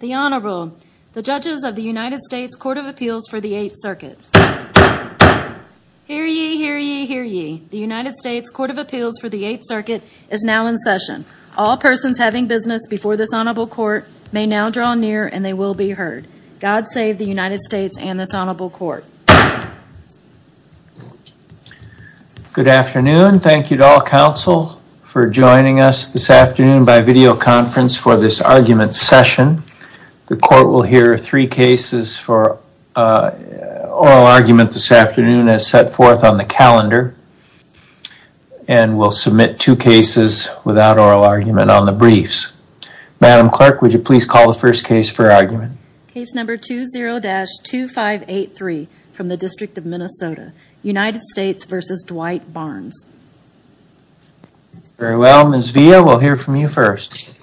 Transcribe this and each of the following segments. The Honorable, the judges of the United States Court of Appeals for the Eighth Circuit. Hear ye, hear ye, hear ye. The United States Court of Appeals for the Eighth Circuit is now in session. All persons having business before this Honorable Court may now draw near and they will be heard. God save the United States and this Honorable Court. Good afternoon. Thank you to all counsel for joining us this afternoon by videoconference for this argument session. The court will hear three cases for oral argument this afternoon as set forth on the calendar. And we'll submit two cases without oral argument on the briefs. Madam Clerk, would you please call the first case for argument. Case number 20-2583 from the District of Minnesota, United States v. Dwight Barnes. Very well, Ms. Villa, we'll hear from you first.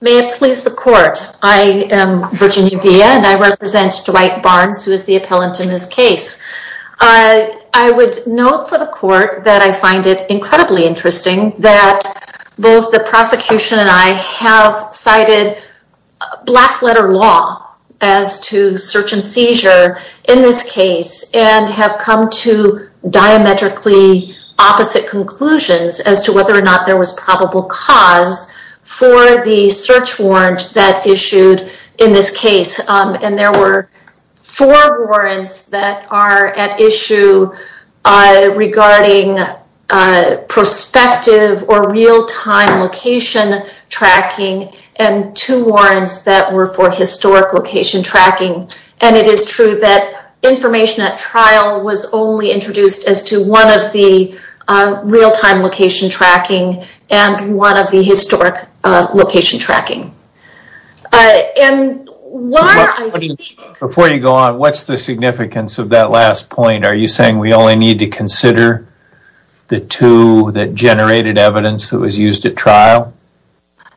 May it please the court, I am Virginia Villa and I represent Dwight Barnes who is the appellant in this case. I would note for the court that I find it incredibly interesting that both the prosecution and I have cited black letter law as to search and seizure in this case and have come to diametrically opposite conclusions as to whether or not there was probable cause for the search warrant that issued in this case. And there were four warrants that are at issue regarding prospective or real-time location tracking and two warrants that were for historic location tracking. And it is true that information at trial was only introduced as to one of the real-time location tracking and one of the historic location tracking. Before you go on, what's the significance of that last point? Are you saying we only need to consider the two that generated evidence that was used at trial?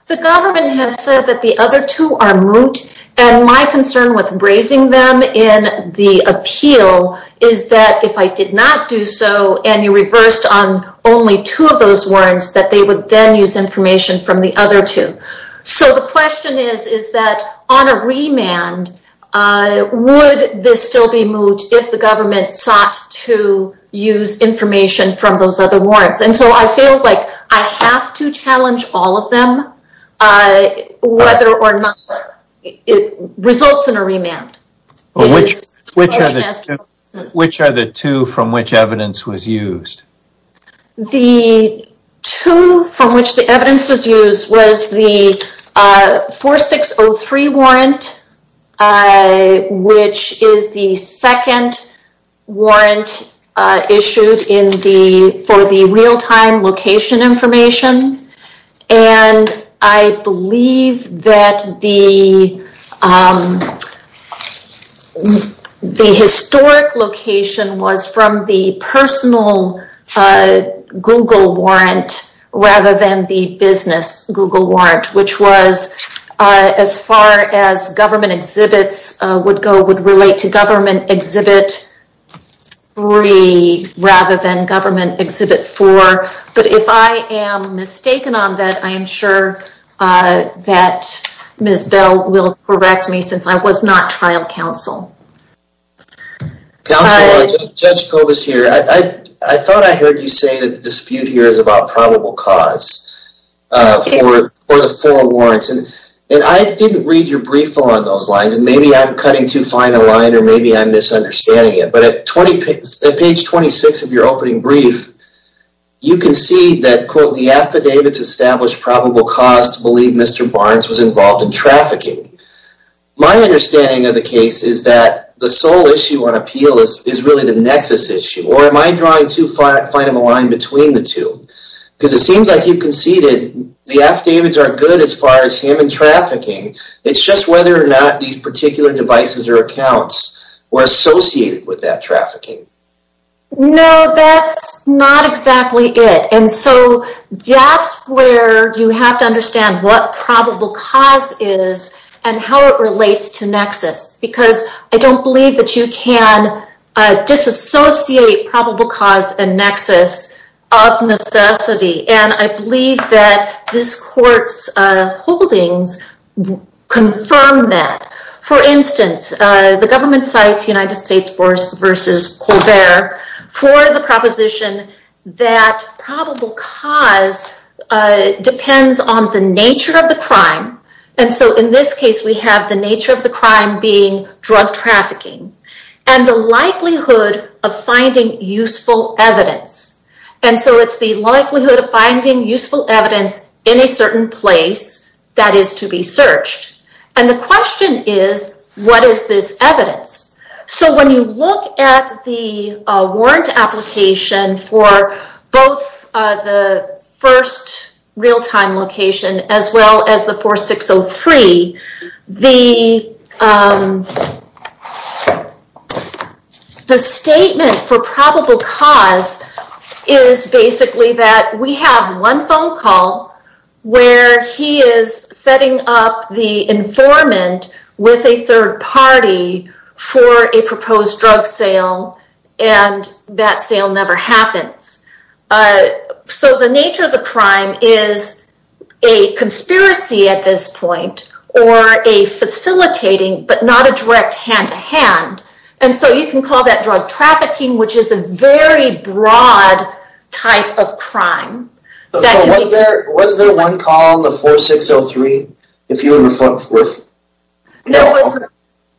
The government has said that the other two are moot and my concern with raising them in the appeal is that if I did not do so and you reversed on only two of those warrants, that they would then use information from the other two. So the question is, is that on a remand, would this still be moot if the government sought to use information from those other warrants? And so I feel like I have to challenge all of them whether or not it results in a remand. Which are the two from which evidence was used? The two from which the evidence was used was the 4603 warrant, which is the second warrant issued for the real-time location information. And I believe that the historic location was from the personal Google warrant rather than the business Google warrant, which was as far as government exhibits would go, would relate to government exhibit 3 rather than government exhibit 4. But if I am mistaken on that, I am sure that Ms. Bell will correct me since I was not trial counsel. Counsel, Judge Kobus here. I thought I heard you say that the dispute here is about probable cause for the four warrants. And I didn't read your brief on those lines and maybe I'm cutting too fine a line or maybe I'm misunderstanding it. But at page 26 of your opening brief, you can see that the affidavits established probable cause to believe Mr. Barnes was involved in trafficking. My understanding of the case is that the sole issue on appeal is really the nexus issue. Or am I drawing too fine of a line between the two? Because it seems like you conceded the affidavits are good as far as him and trafficking. It's just whether or not these particular devices or accounts were associated with that trafficking. No, that's not exactly it. And so that's where you have to understand what probable cause is and how it relates to nexus. Because I don't believe that you can disassociate probable cause and nexus of necessity. And I believe that this court's holdings confirm that. For instance, the government cites United States v. Colbert for the proposition that probable cause depends on the nature of the crime. And so in this case, we have the nature of the crime being drug trafficking and the likelihood of finding useful evidence. And so it's the likelihood of finding useful evidence in a certain place that is to be searched. And the question is, what is this evidence? So when you look at the warrant application for both the first real-time location as well as the 4603, the statement for probable cause is basically that we have one phone call where he is setting up the informant with a third party for a proposed drug sale and that sale never happens. So the nature of the crime is a conspiracy at this point or a facilitating, but not a direct hand-to-hand. And so you can call that drug trafficking, which is a very broad type of crime. So was there one call on the 4603?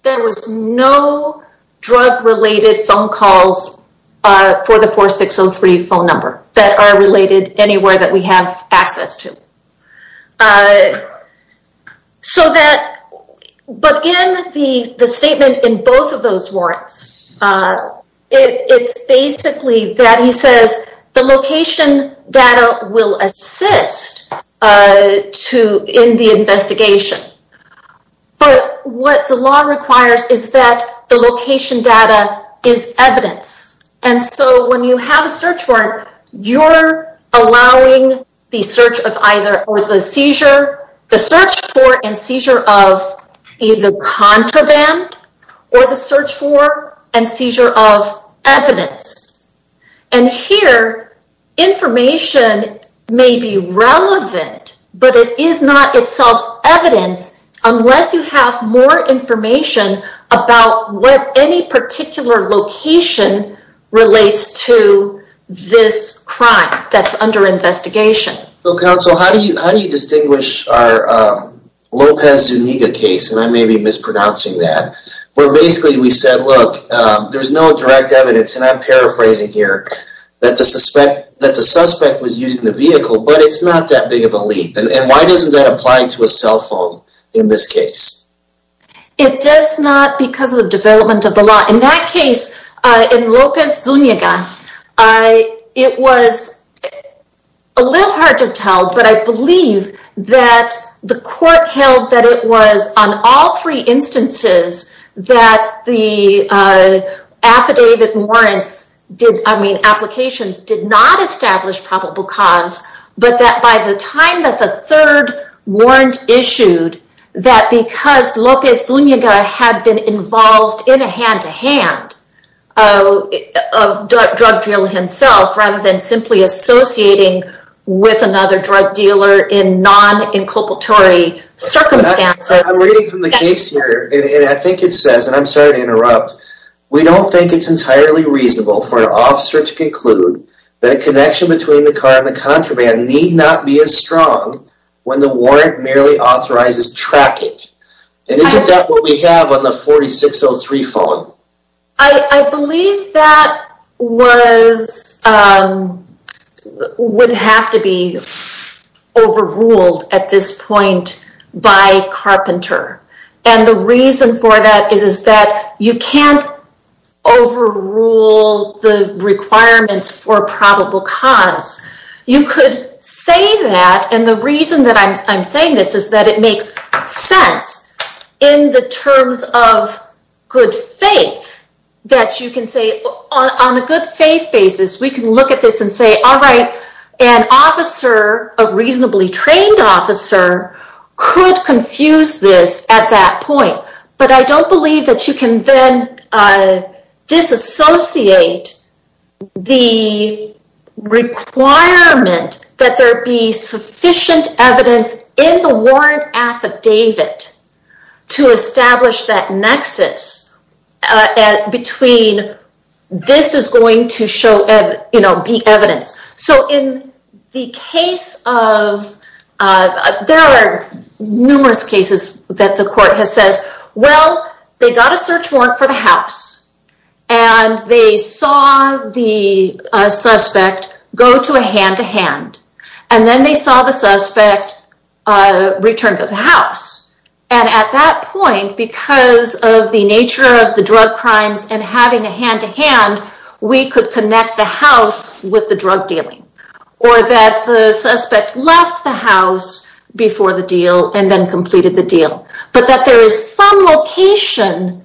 There was no drug-related phone calls for the 4603 phone number that are related anywhere that we have access to. But in the statement in both of those warrants, it's basically that he says the location data will assist in the investigation. But what the law requires is that the location data is evidence. And so when you have a search warrant, you're allowing the search for and seizure of either contraband or the search for and seizure of evidence. And here, information may be relevant, but it is not itself evidence unless you have more information about what any particular location relates to this crime that's under investigation. Counsel, how do you distinguish our Lopez Zuniga case, and I may be mispronouncing that, where basically we said, look, there's no direct evidence. And I'm paraphrasing here that the suspect was using the vehicle, but it's not that big of a leap. And why doesn't that apply to a cell phone in this case? It does not because of the development of the law. In that case, in Lopez Zuniga, it was a little hard to tell, but I believe that the court held that it was on all three instances that the affidavit warrants did, I mean, applications did not establish probable cause. But that by the time that the third warrant issued, that because Lopez Zuniga had been involved in a hand-to-hand drug deal himself, rather than simply associating with another drug dealer in non-inculpatory circumstances. I'm reading from the case here, and I think it says, and I'm sorry to interrupt, we don't think it's entirely reasonable for an officer to conclude that a connection between the car and the contraband need not be as strong when the warrant merely authorizes tracking. And isn't that what we have on the 4603 phone? I believe that would have to be overruled at this point by Carpenter. And the reason for that is that you can't overrule the requirements for probable cause. You could say that, and the reason that I'm saying this is that it makes sense in the terms of good faith, that you can say, on a good faith basis, we can look at this and say, alright, an officer, a reasonably trained officer, could confuse this at that point. But I don't believe that you can then disassociate the requirement that there be sufficient evidence in the warrant affidavit to establish that nexus between this is going to be evidence. So in the case of, there are numerous cases that the court has said, well, they got a search warrant for the house, and they saw the suspect go to a hand-to-hand, and then they saw the suspect return to the house. And at that point, because of the nature of the drug crimes and having a hand-to-hand, we could connect the house with the drug dealing. Or that the suspect left the house before the deal and then completed the deal. But that there is some location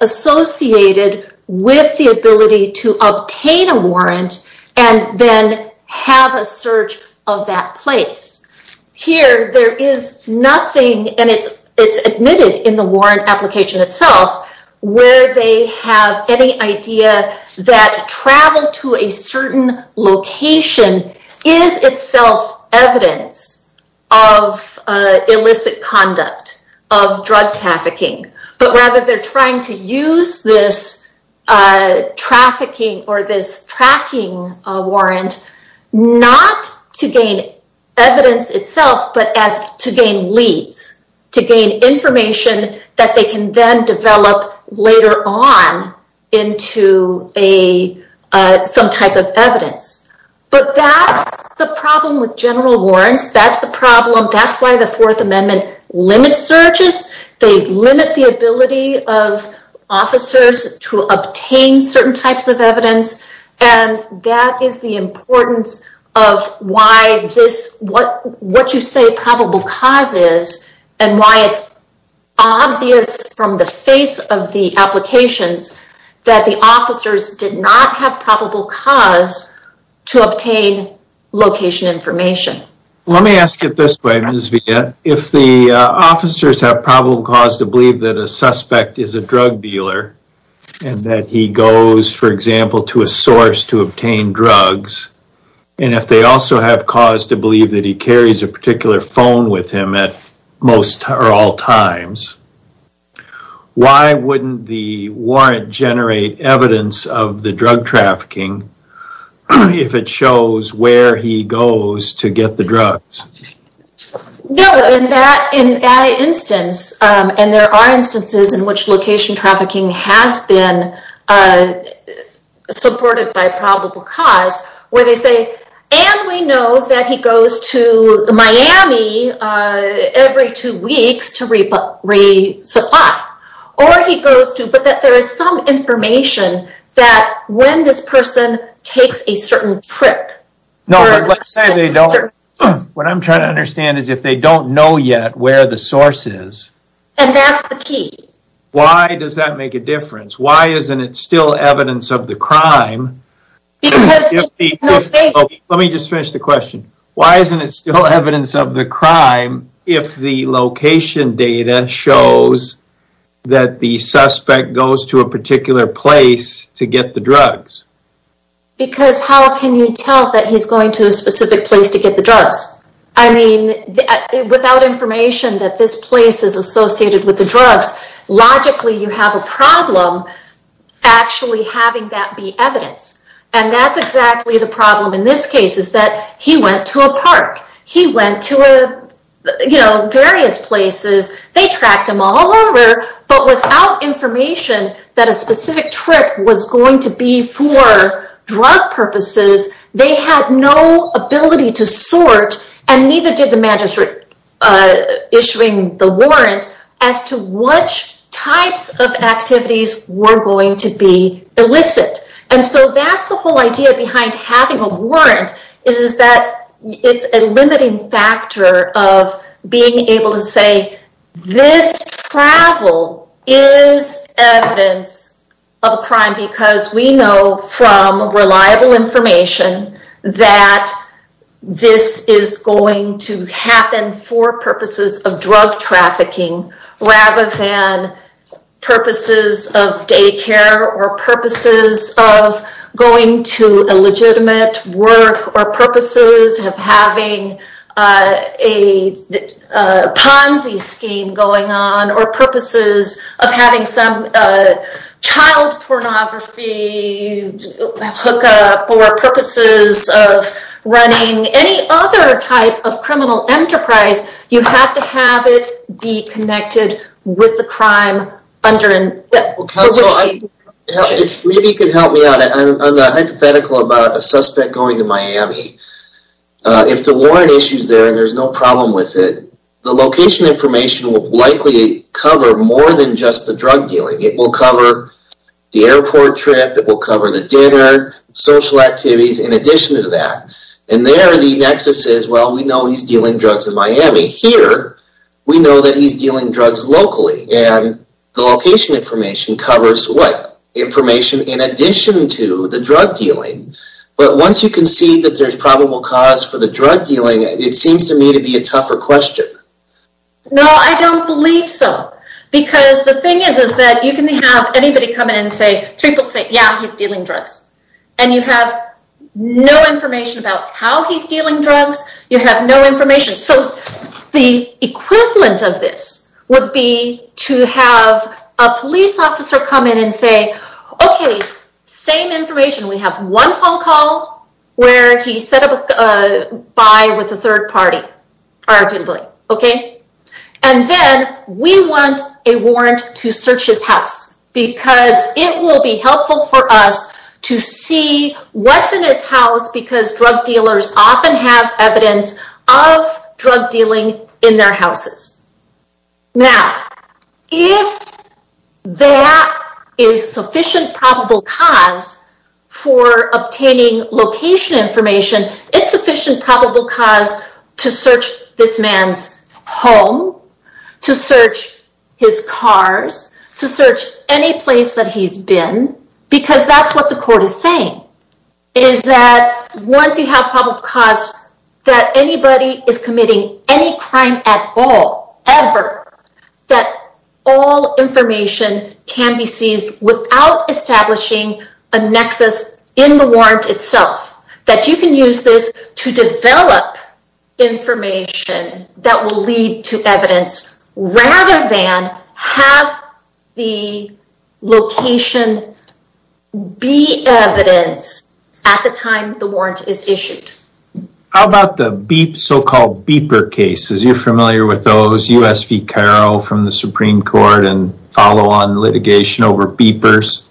associated with the ability to obtain a warrant and then have a search of that place. Here, there is nothing, and it's admitted in the warrant application itself, where they have any idea that travel to a certain location is itself evidence of illicit conduct of drug trafficking. But rather, they're trying to use this trafficking or this tracking warrant, not to gain evidence itself, but to gain leads. To gain information that they can then develop later on into some type of evidence. But that's the problem with general warrants. That's the problem. That's why the Fourth Amendment limits searches. They limit the ability of officers to obtain certain types of evidence. And that is the importance of why this, what you say probable cause is, and why it's obvious from the face of the applications that the officers did not have probable cause to obtain location information. Let me ask it this way, Ms. Villa. If the officers have probable cause to believe that a suspect is a drug dealer, and that he goes, for example, to a source to obtain drugs. And if they also have cause to believe that he carries a particular phone with him at most or all times. Why wouldn't the warrant generate evidence of the drug trafficking if it shows where he goes to get the drugs? No, in that instance, and there are instances in which location trafficking has been supported by probable cause. Where they say, and we know that he goes to Miami every two weeks to resupply. Or he goes to, but there is some information that when this person takes a certain trip. What I'm trying to understand is if they don't know yet where the source is. And that's the key. Why does that make a difference? Why isn't it still evidence of the crime? Let me just finish the question. Why isn't it still evidence of the crime if the location data shows that the suspect goes to a particular place to get the drugs? Because how can you tell that he's going to a specific place to get the drugs? I mean, without information that this place is associated with the drugs. Logically, you have a problem actually having that be evidence. And that's exactly the problem in this case. Is that he went to a park. He went to various places. They tracked him all over. But without information that a specific trip was going to be for drug purposes. They had no ability to sort. And neither did the magistrate issuing the warrant as to which types of activities were going to be illicit. And so that's the whole idea behind having a warrant. It's a limiting factor of being able to say this travel is evidence of a crime. Because we know from reliable information that this is going to happen for purposes of drug trafficking. Rather than purposes of daycare. Or purposes of going to a legitimate work. Or purposes of having a Ponzi scheme going on. Or purposes of having some child pornography hookup. Or purposes of running any other type of criminal enterprise. You have to have it be connected with the crime. Maybe you can help me out on the hypothetical about a suspect going to Miami. If the warrant issue is there and there's no problem with it. The location information will likely cover more than just the drug dealing. It will cover the airport trip. It will cover the dinner. Social activities in addition to that. And there the nexus is well we know he's dealing drugs in Miami. Here we know that he's dealing drugs locally. And the location information covers what? Information in addition to the drug dealing. But once you can see that there's probable cause for the drug dealing. It seems to me to be a tougher question. No I don't believe so. Because the thing is that you can have anybody come in and say. People say yeah he's dealing drugs. And you have no information about how he's dealing drugs. You have no information. So the equivalent of this would be to have a police officer come in and say. Okay same information. We have one phone call where he said bye with a third party. Arguably okay. And then we want a warrant to search his house. Because it will be helpful for us to see what's in his house. Because drug dealers often have evidence of drug dealing in their houses. Now if that is sufficient probable cause for obtaining location information. It's sufficient probable cause to search this man's home. To search his cars. To search any place that he's been. Because that's what the court is saying. Is that once you have probable cause that anybody is committing any crime at all. Ever. That all information can be seized without establishing a nexus in the warrant itself. That you can use this to develop information that will lead to evidence. Rather than have the location be evidence at the time the warrant is issued. How about the so called beeper cases? You're familiar with those. U.S. v. Cairo from the Supreme Court. And follow on litigation over beepers.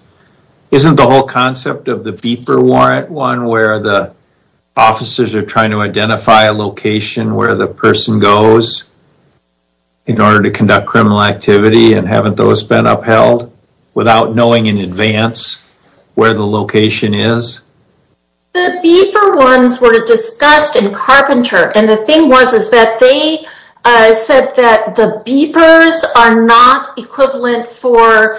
Isn't the whole concept of the beeper warrant one. Where the officers are trying to identify a location where the person goes. In order to conduct criminal activity. And haven't those been upheld. Without knowing in advance where the location is. The beeper ones were discussed in Carpenter. And the thing was that they said that the beepers are not equivalent for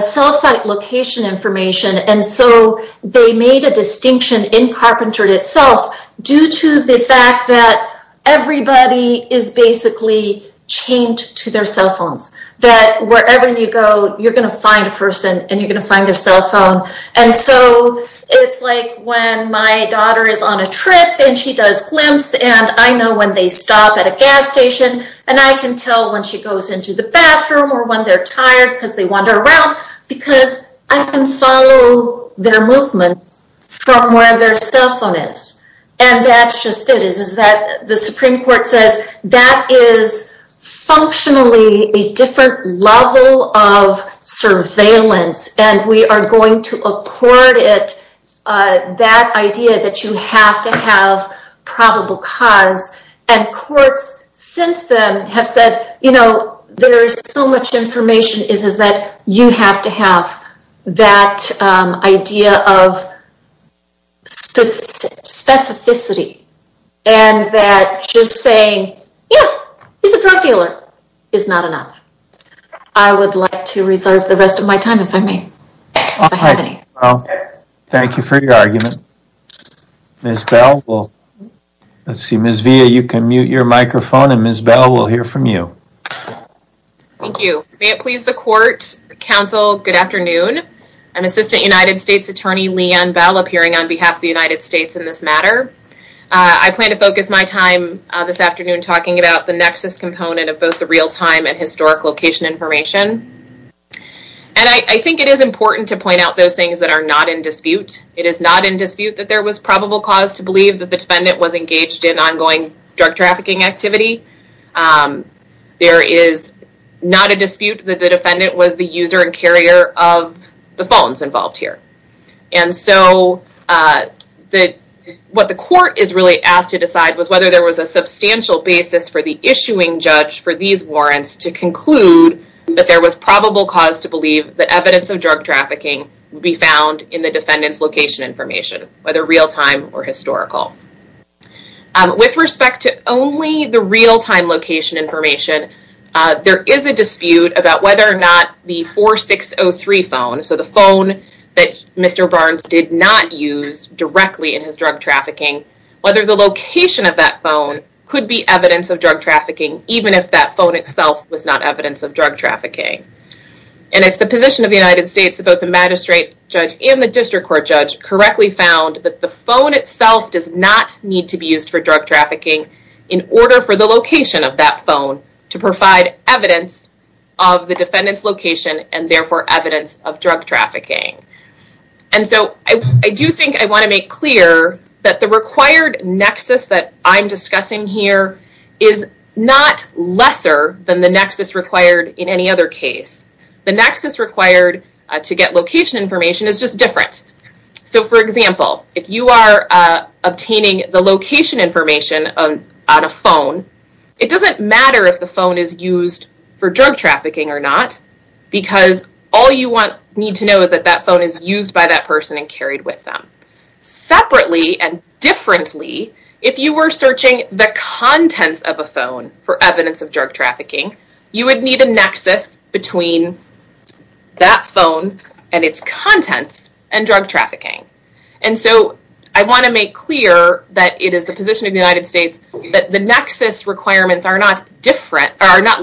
cell site location information. And so they made a distinction in Carpenter itself. Due to the fact that everybody is basically chained to their cell phones. That wherever you go you're going to find a person. And you're going to find their cell phone. And so it's like when my daughter is on a trip. And she does glimpses. And I know when they stop at a gas station. And I can tell when she goes into the bathroom. Or when they're tired because they wander around. Because I can follow their movements from where their cell phone is. And that's just it. The Supreme Court says that is functionally a different level of surveillance. And we are going to accord it that idea that you have to have probable cause. And courts since then have said you know there is so much information. Is that you have to have that idea of specificity. And that just saying yeah he's a drug dealer is not enough. I would like to reserve the rest of my time if I may. Thank you for your argument. Ms. Bell. Ms. Villa you can mute your microphone. And Ms. Bell will hear from you. Thank you. May it please the court. Counsel. Good afternoon. I'm Assistant United States Attorney Leanne Bell. Appearing on behalf of the United States in this matter. I plan to focus my time this afternoon talking about the nexus component of both the real time and historic location information. And I think it is important to point out those things that are not in dispute. It is not in dispute that there was probable cause to believe that the defendant was engaged in ongoing drug trafficking activity. There is not a dispute that the defendant was the user and carrier of the phones involved here. And so what the court is really asked to decide was whether there was a substantial basis for the issuing judge for these warrants to conclude that there was probable cause to believe that evidence of drug trafficking would be found in the defendant's location information. Whether real time or historical. With respect to only the real time location information, there is a dispute about whether or not the 4603 phone, so the phone that Mr. Barnes did not use directly in his drug trafficking, whether the location of that phone could be evidence of drug trafficking even if that phone itself was not evidence of drug trafficking. And as the position of the United States, both the magistrate judge and the district court judge, correctly found that the phone itself does not need to be used for drug trafficking in order for the location of that phone to provide evidence of the defendant's location and therefore evidence of drug trafficking. And so I do think I want to make clear that the required nexus that I'm discussing here is not lesser than the nexus required in any other case. The nexus required to get location information is just different. So for example, if you are obtaining the location information on a phone, it doesn't matter if the phone is used for drug trafficking or not because all you need to know is that that phone is used by that person and carried with them. Separately and differently, if you were searching the contents of a phone for evidence of drug trafficking, you would need a nexus between that phone and its contents and drug trafficking. And so I want to make clear that it is the position of the United States that the nexus requirements are not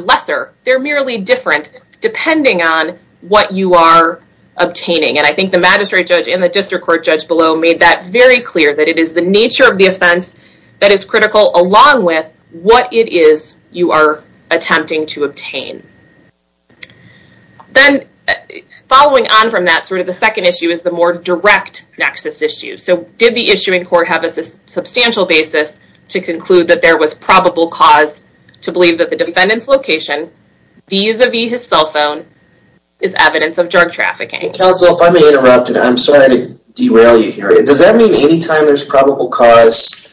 lesser, they're merely different depending on what you are obtaining. And I think the magistrate judge and the district court judge below made that very clear that it is the nature of the offense that is critical along with what it is you are attempting to obtain. Then following on from that, sort of the second issue is the more direct nexus issue. So did the issuing court have a substantial basis to conclude that there was probable cause to believe that the defendant's location vis-a-vis his cell phone is evidence of drug trafficking? Counsel, if I may interrupt, I'm sorry to derail you here. Does that mean any time there's probable cause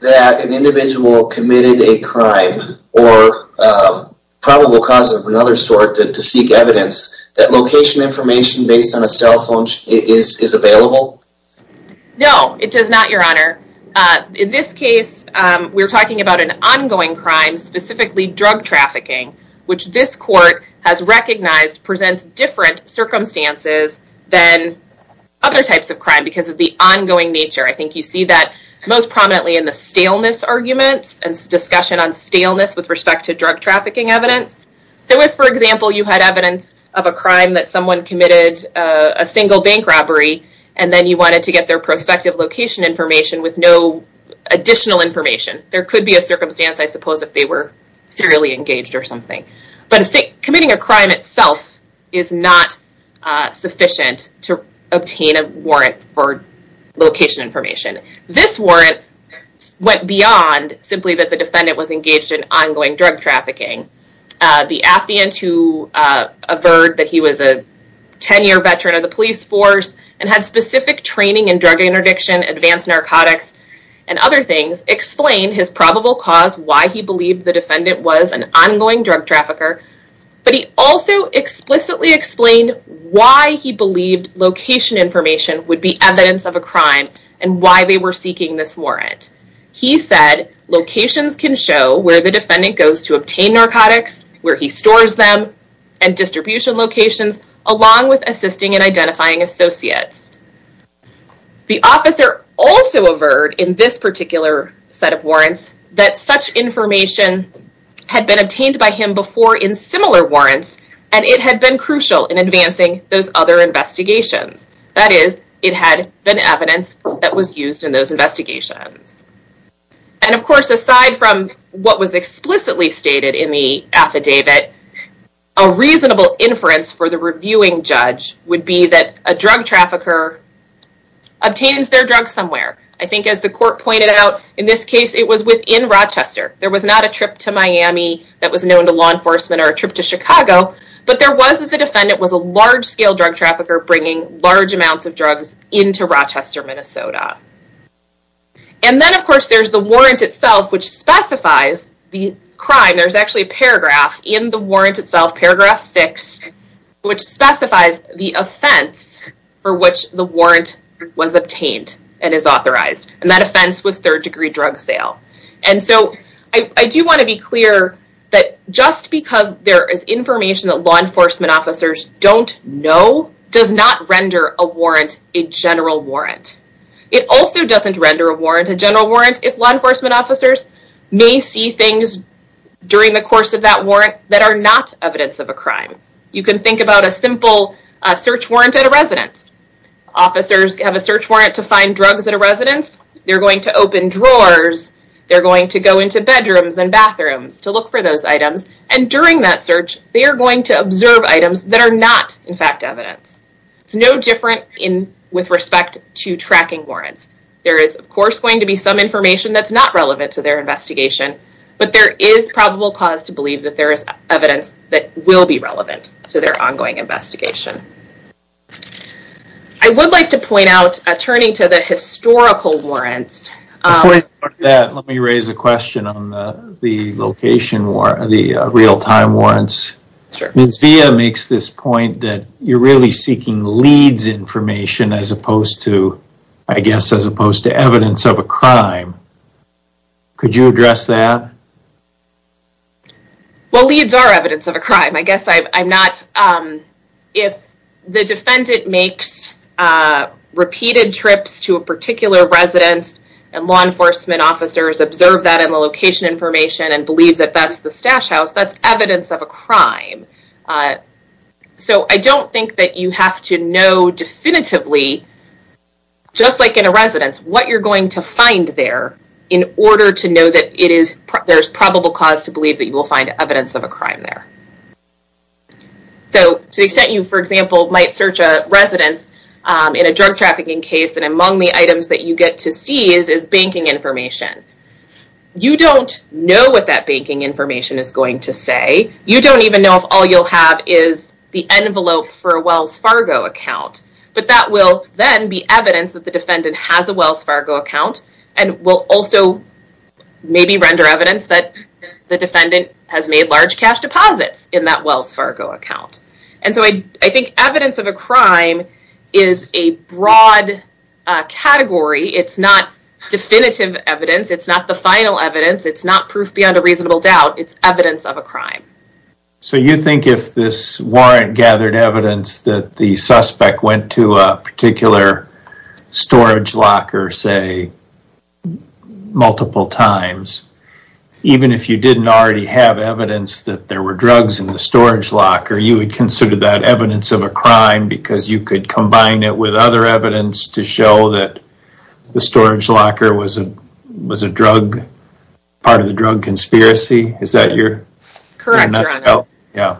that an individual committed a crime or probable cause of another sort to seek evidence, that location information based on a cell phone is available? No, it does not, Your Honor. In this case, we're talking about an ongoing crime, specifically drug trafficking, which this court has recognized presents different circumstances than other types of crime because of the ongoing nature. I think you see that most prominently in the staleness arguments and discussion on staleness with respect to drug trafficking evidence. So if, for example, you had evidence of a crime that someone committed a single bank robbery and then you wanted to get their prospective location information with no additional information, there could be a circumstance, I suppose, if they were serially engaged or something. But committing a crime itself is not sufficient to obtain a warrant for location information. This warrant went beyond simply that the defendant was engaged in ongoing drug trafficking. The affiant who averred that he was a 10-year veteran of the police force and had specific training in drug interdiction, advanced narcotics, and other things explained his probable cause why he believed the defendant was an ongoing drug trafficker, but he also explicitly explained why he believed location information would be evidence of a crime and why they were seeking this warrant. He said locations can show where the defendant goes to obtain narcotics, where he stores them, and distribution locations, along with assisting in identifying associates. The officer also averred in this particular set of warrants that such information had been obtained by him before in similar warrants and it had been crucial in advancing those other investigations. That is, it had been evidence that was used in those investigations. And of course, aside from what was explicitly stated in the affidavit, a reasonable inference for the reviewing judge would be that a drug trafficker obtains their drug somewhere. I think as the court pointed out, in this case, it was within Rochester. There was not a trip to Miami that was known to law enforcement or a trip to Chicago, but there was that the defendant was a large-scale drug trafficker bringing large amounts of drugs into Rochester, Minnesota. And then, of course, there's the warrant itself, which specifies the crime. There's actually a paragraph in the warrant itself, paragraph 6, which specifies the offense for which the warrant was obtained and is authorized, and that offense was third-degree drug sale. And so I do want to be clear that just because there is information that law enforcement officers don't know does not render a warrant a general warrant. It also doesn't render a warrant a general warrant if law enforcement officers may see things during the course of that warrant that are not evidence of a crime. You can think about a simple search warrant at a residence. Officers have a search warrant to find drugs at a residence. They're going to open drawers. They're going to go into bedrooms and bathrooms to look for those items, and during that search, they are going to observe items that are not, in fact, evidence. It's no different with respect to tracking warrants. There is, of course, going to be some information that's not relevant to their investigation, but there is probable cause to believe that there is evidence that will be relevant to their ongoing investigation. I would like to point out, turning to the historical warrants. Before you do that, let me raise a question on the location warrants, the real-time warrants. Ms. Villa makes this point that you're really seeking leads information as opposed to, I guess, as opposed to evidence of a crime. Could you address that? Well, leads are evidence of a crime. I guess I'm not, if the defendant makes repeated trips to a particular residence and law enforcement officers observe that in the location information and believe that that's the stash house, that's evidence of a crime. So I don't think that you have to know definitively, just like in a residence, what you're going to find there in order to know that it is, there's probable cause to believe that you will find evidence of a crime there. So to the extent you, for example, might search a residence in a drug trafficking case and among the items that you get to see is banking information. You don't know what that banking information is going to say. You don't even know if all you'll have is the envelope for a Wells Fargo account, but that will then be evidence that the defendant has a Wells Fargo account and will also maybe render evidence that the defendant has made large cash deposits in that Wells Fargo account. And so I think evidence of a crime is a broad category. It's not definitive evidence. It's not the final evidence. It's not proof beyond a reasonable doubt. It's evidence of a crime. So you think if this warrant gathered evidence that the suspect went to a particular storage locker, say, multiple times, even if you didn't already have evidence that there were drugs in the storage locker, you would consider that evidence of a crime because you could combine it with other evidence to show that the storage locker was a drug, part of the drug conspiracy? Is that your nutshell? Correct, Your Honor. Yeah.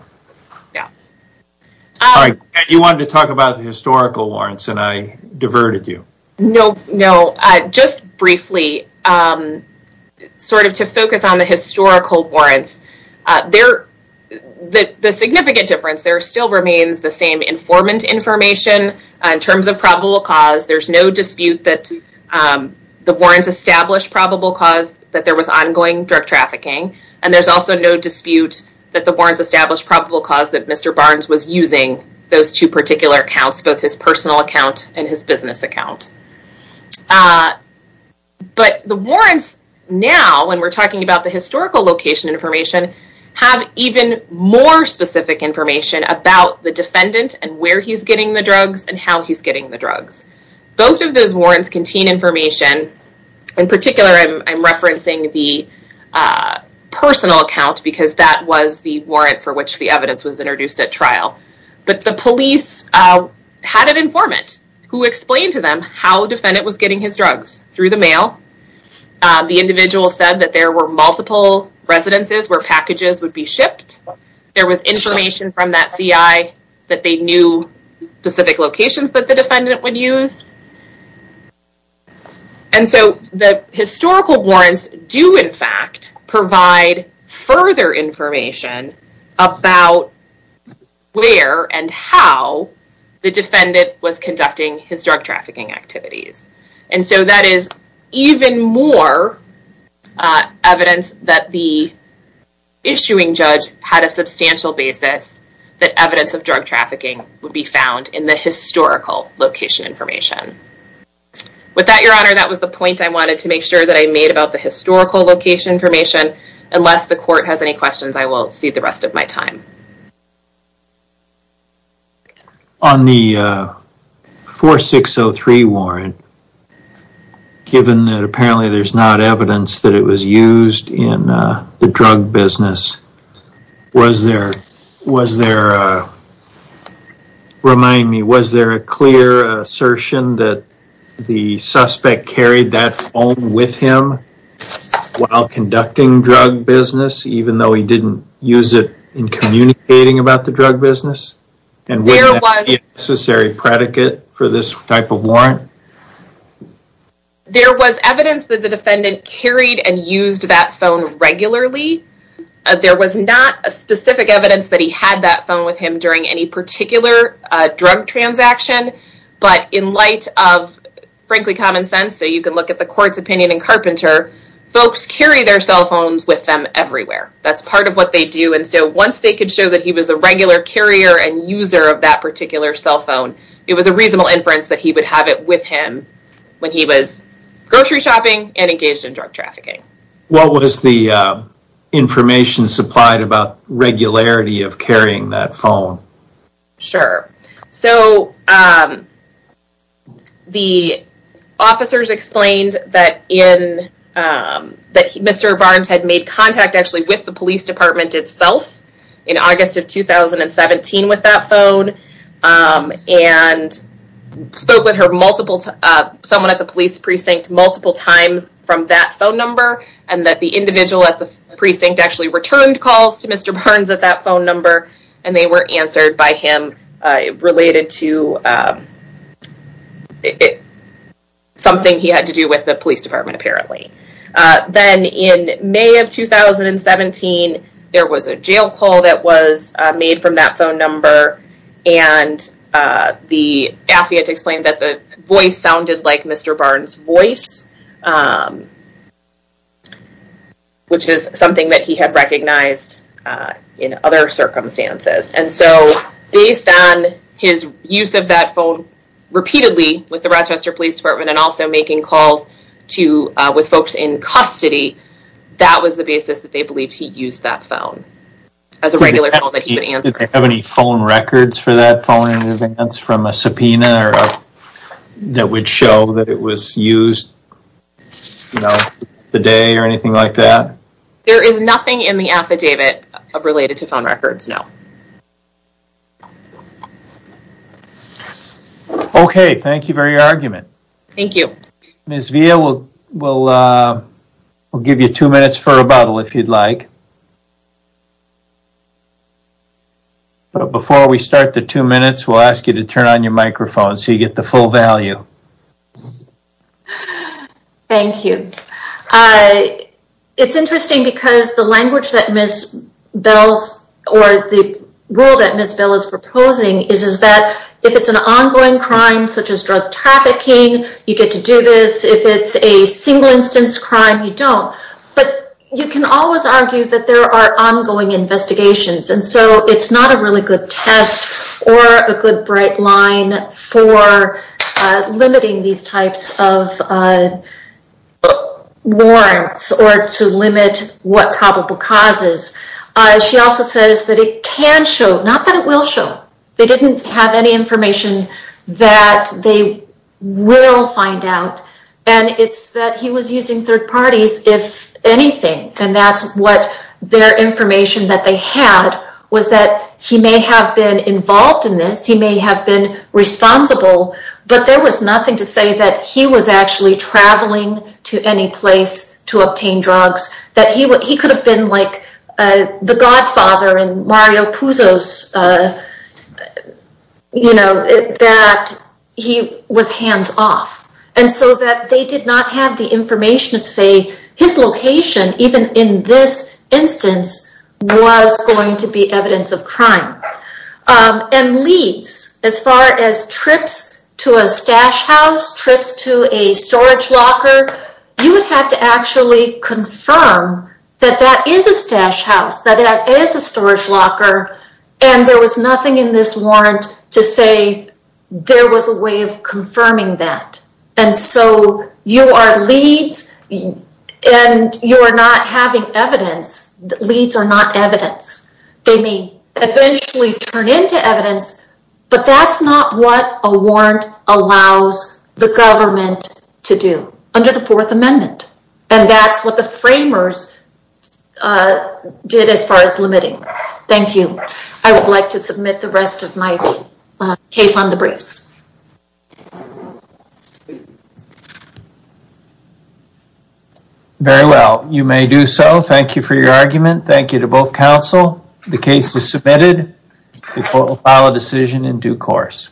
All right. You wanted to talk about the historical warrants, and I diverted you. No, no. Just briefly, sort of to focus on the historical warrants, the significant difference there still remains the same informant information. In terms of probable cause, there's no dispute that the warrants established probable cause that there was ongoing drug trafficking, and there's also no dispute that the warrants established probable cause that Mr. Barnes was using those two particular accounts, both his personal account and his business account. But the warrants now, when we're talking about the historical location information, have even more specific information about the defendant and where he's getting the drugs and how he's getting the drugs. Both of those warrants contain information. In particular, I'm referencing the personal account because that was the warrant for which the evidence was introduced at trial. But the police had an informant who explained to them how the defendant was getting his drugs through the mail. The individual said that there were multiple residences where packages would be shipped. There was information from that CI that they knew specific locations that the defendant would use. And so the historical warrants do, in fact, provide further information about where and how the defendant was conducting his drug trafficking activities. And so that is even more evidence that the issuing judge had a substantial basis that evidence of drug trafficking would be found in the historical location information. With that, Your Honor, that was the point I wanted to make sure that I made about the historical location information. Unless the court has any questions, I will cede the rest of my time. On the 4603 warrant, given that apparently there's not evidence that it was used in the drug business, was there a clear assertion that the suspect carried that phone with him while conducting drug business, even though he didn't use it in communicating about the drug business? And was there a necessary predicate for this type of warrant? There was evidence that the defendant carried and used that phone regularly. There was not a specific evidence that he had that phone with him during any particular drug transaction. But in light of, frankly, common sense, so you can look at the court's opinion in Carpenter, folks carry their cell phones with them everywhere. That's part of what they do. And so once they could show that he was a regular carrier and user of that particular cell phone, it was a reasonable inference that he would have it with him when he was grocery shopping and engaged in drug trafficking. What was the information supplied about regularity of carrying that phone? Sure. So the officers explained that Mr. Barnes had made contact actually with the police department itself in August of 2017 with that phone and spoke with someone at the police precinct multiple times from that phone number and that the individual at the precinct actually returned calls to Mr. Barnes at that phone number and they were answered by him related to something he had to do with the police department, apparently. Then in May of 2017, there was a jail call that was made from that phone number and the AFI had to explain that the voice sounded like Mr. Barnes' voice, which is something that he had recognized in other circumstances. And so based on his use of that phone repeatedly with the Rochester Police Department and also making calls with folks in custody, that was the basis that they believed he used that phone as a regular phone that he would answer. Did they have any phone records for that phone in advance from a subpoena that would show that it was used the day or anything like that? There is nothing in the affidavit related to phone records, no. Okay, thank you for your argument. Thank you. Ms. Villa, we'll give you two minutes for rebuttal if you'd like. Before we start the two minutes, we'll ask you to turn on your microphone so you get the full value. Thank you. It's interesting because the language that Ms. Bell, or the rule that Ms. Bell is proposing, is that if it's an ongoing crime such as drug trafficking, you get to do this. If it's a single instance crime, you don't. But you can always argue that there are ongoing investigations, and so it's not a really good test or a good bright line for limiting these types of warrants or to limit what probable causes. She also says that it can show, not that it will show, they didn't have any information that they will find out, and it's that he was using third parties, if anything, and that's what their information that they had was that he may have been involved in this, he may have been responsible, but there was nothing to say that he was actually traveling to any place to obtain drugs, that he could have been like the godfather in Mario Puzo's, you know, that he was hands-off. And so that they did not have the information to say his location, even in this instance, was going to be evidence of crime. And leads, as far as trips to a stash house, trips to a storage locker, you would have to actually confirm that that is a stash house, that that is a storage locker, and there was nothing in this warrant to say there was a way of confirming that. And so you are leads, and you are not having evidence. Leads are not evidence. They may eventually turn into evidence, but that's not what a warrant allows the government to do under the Fourth Amendment. And that's what the framers did as far as limiting. Thank you. I would like to submit the rest of my case on the briefs. Very well. You may do so. Thank you for your argument. Thank you to both counsel. The case is submitted. The court will file a decision in due course.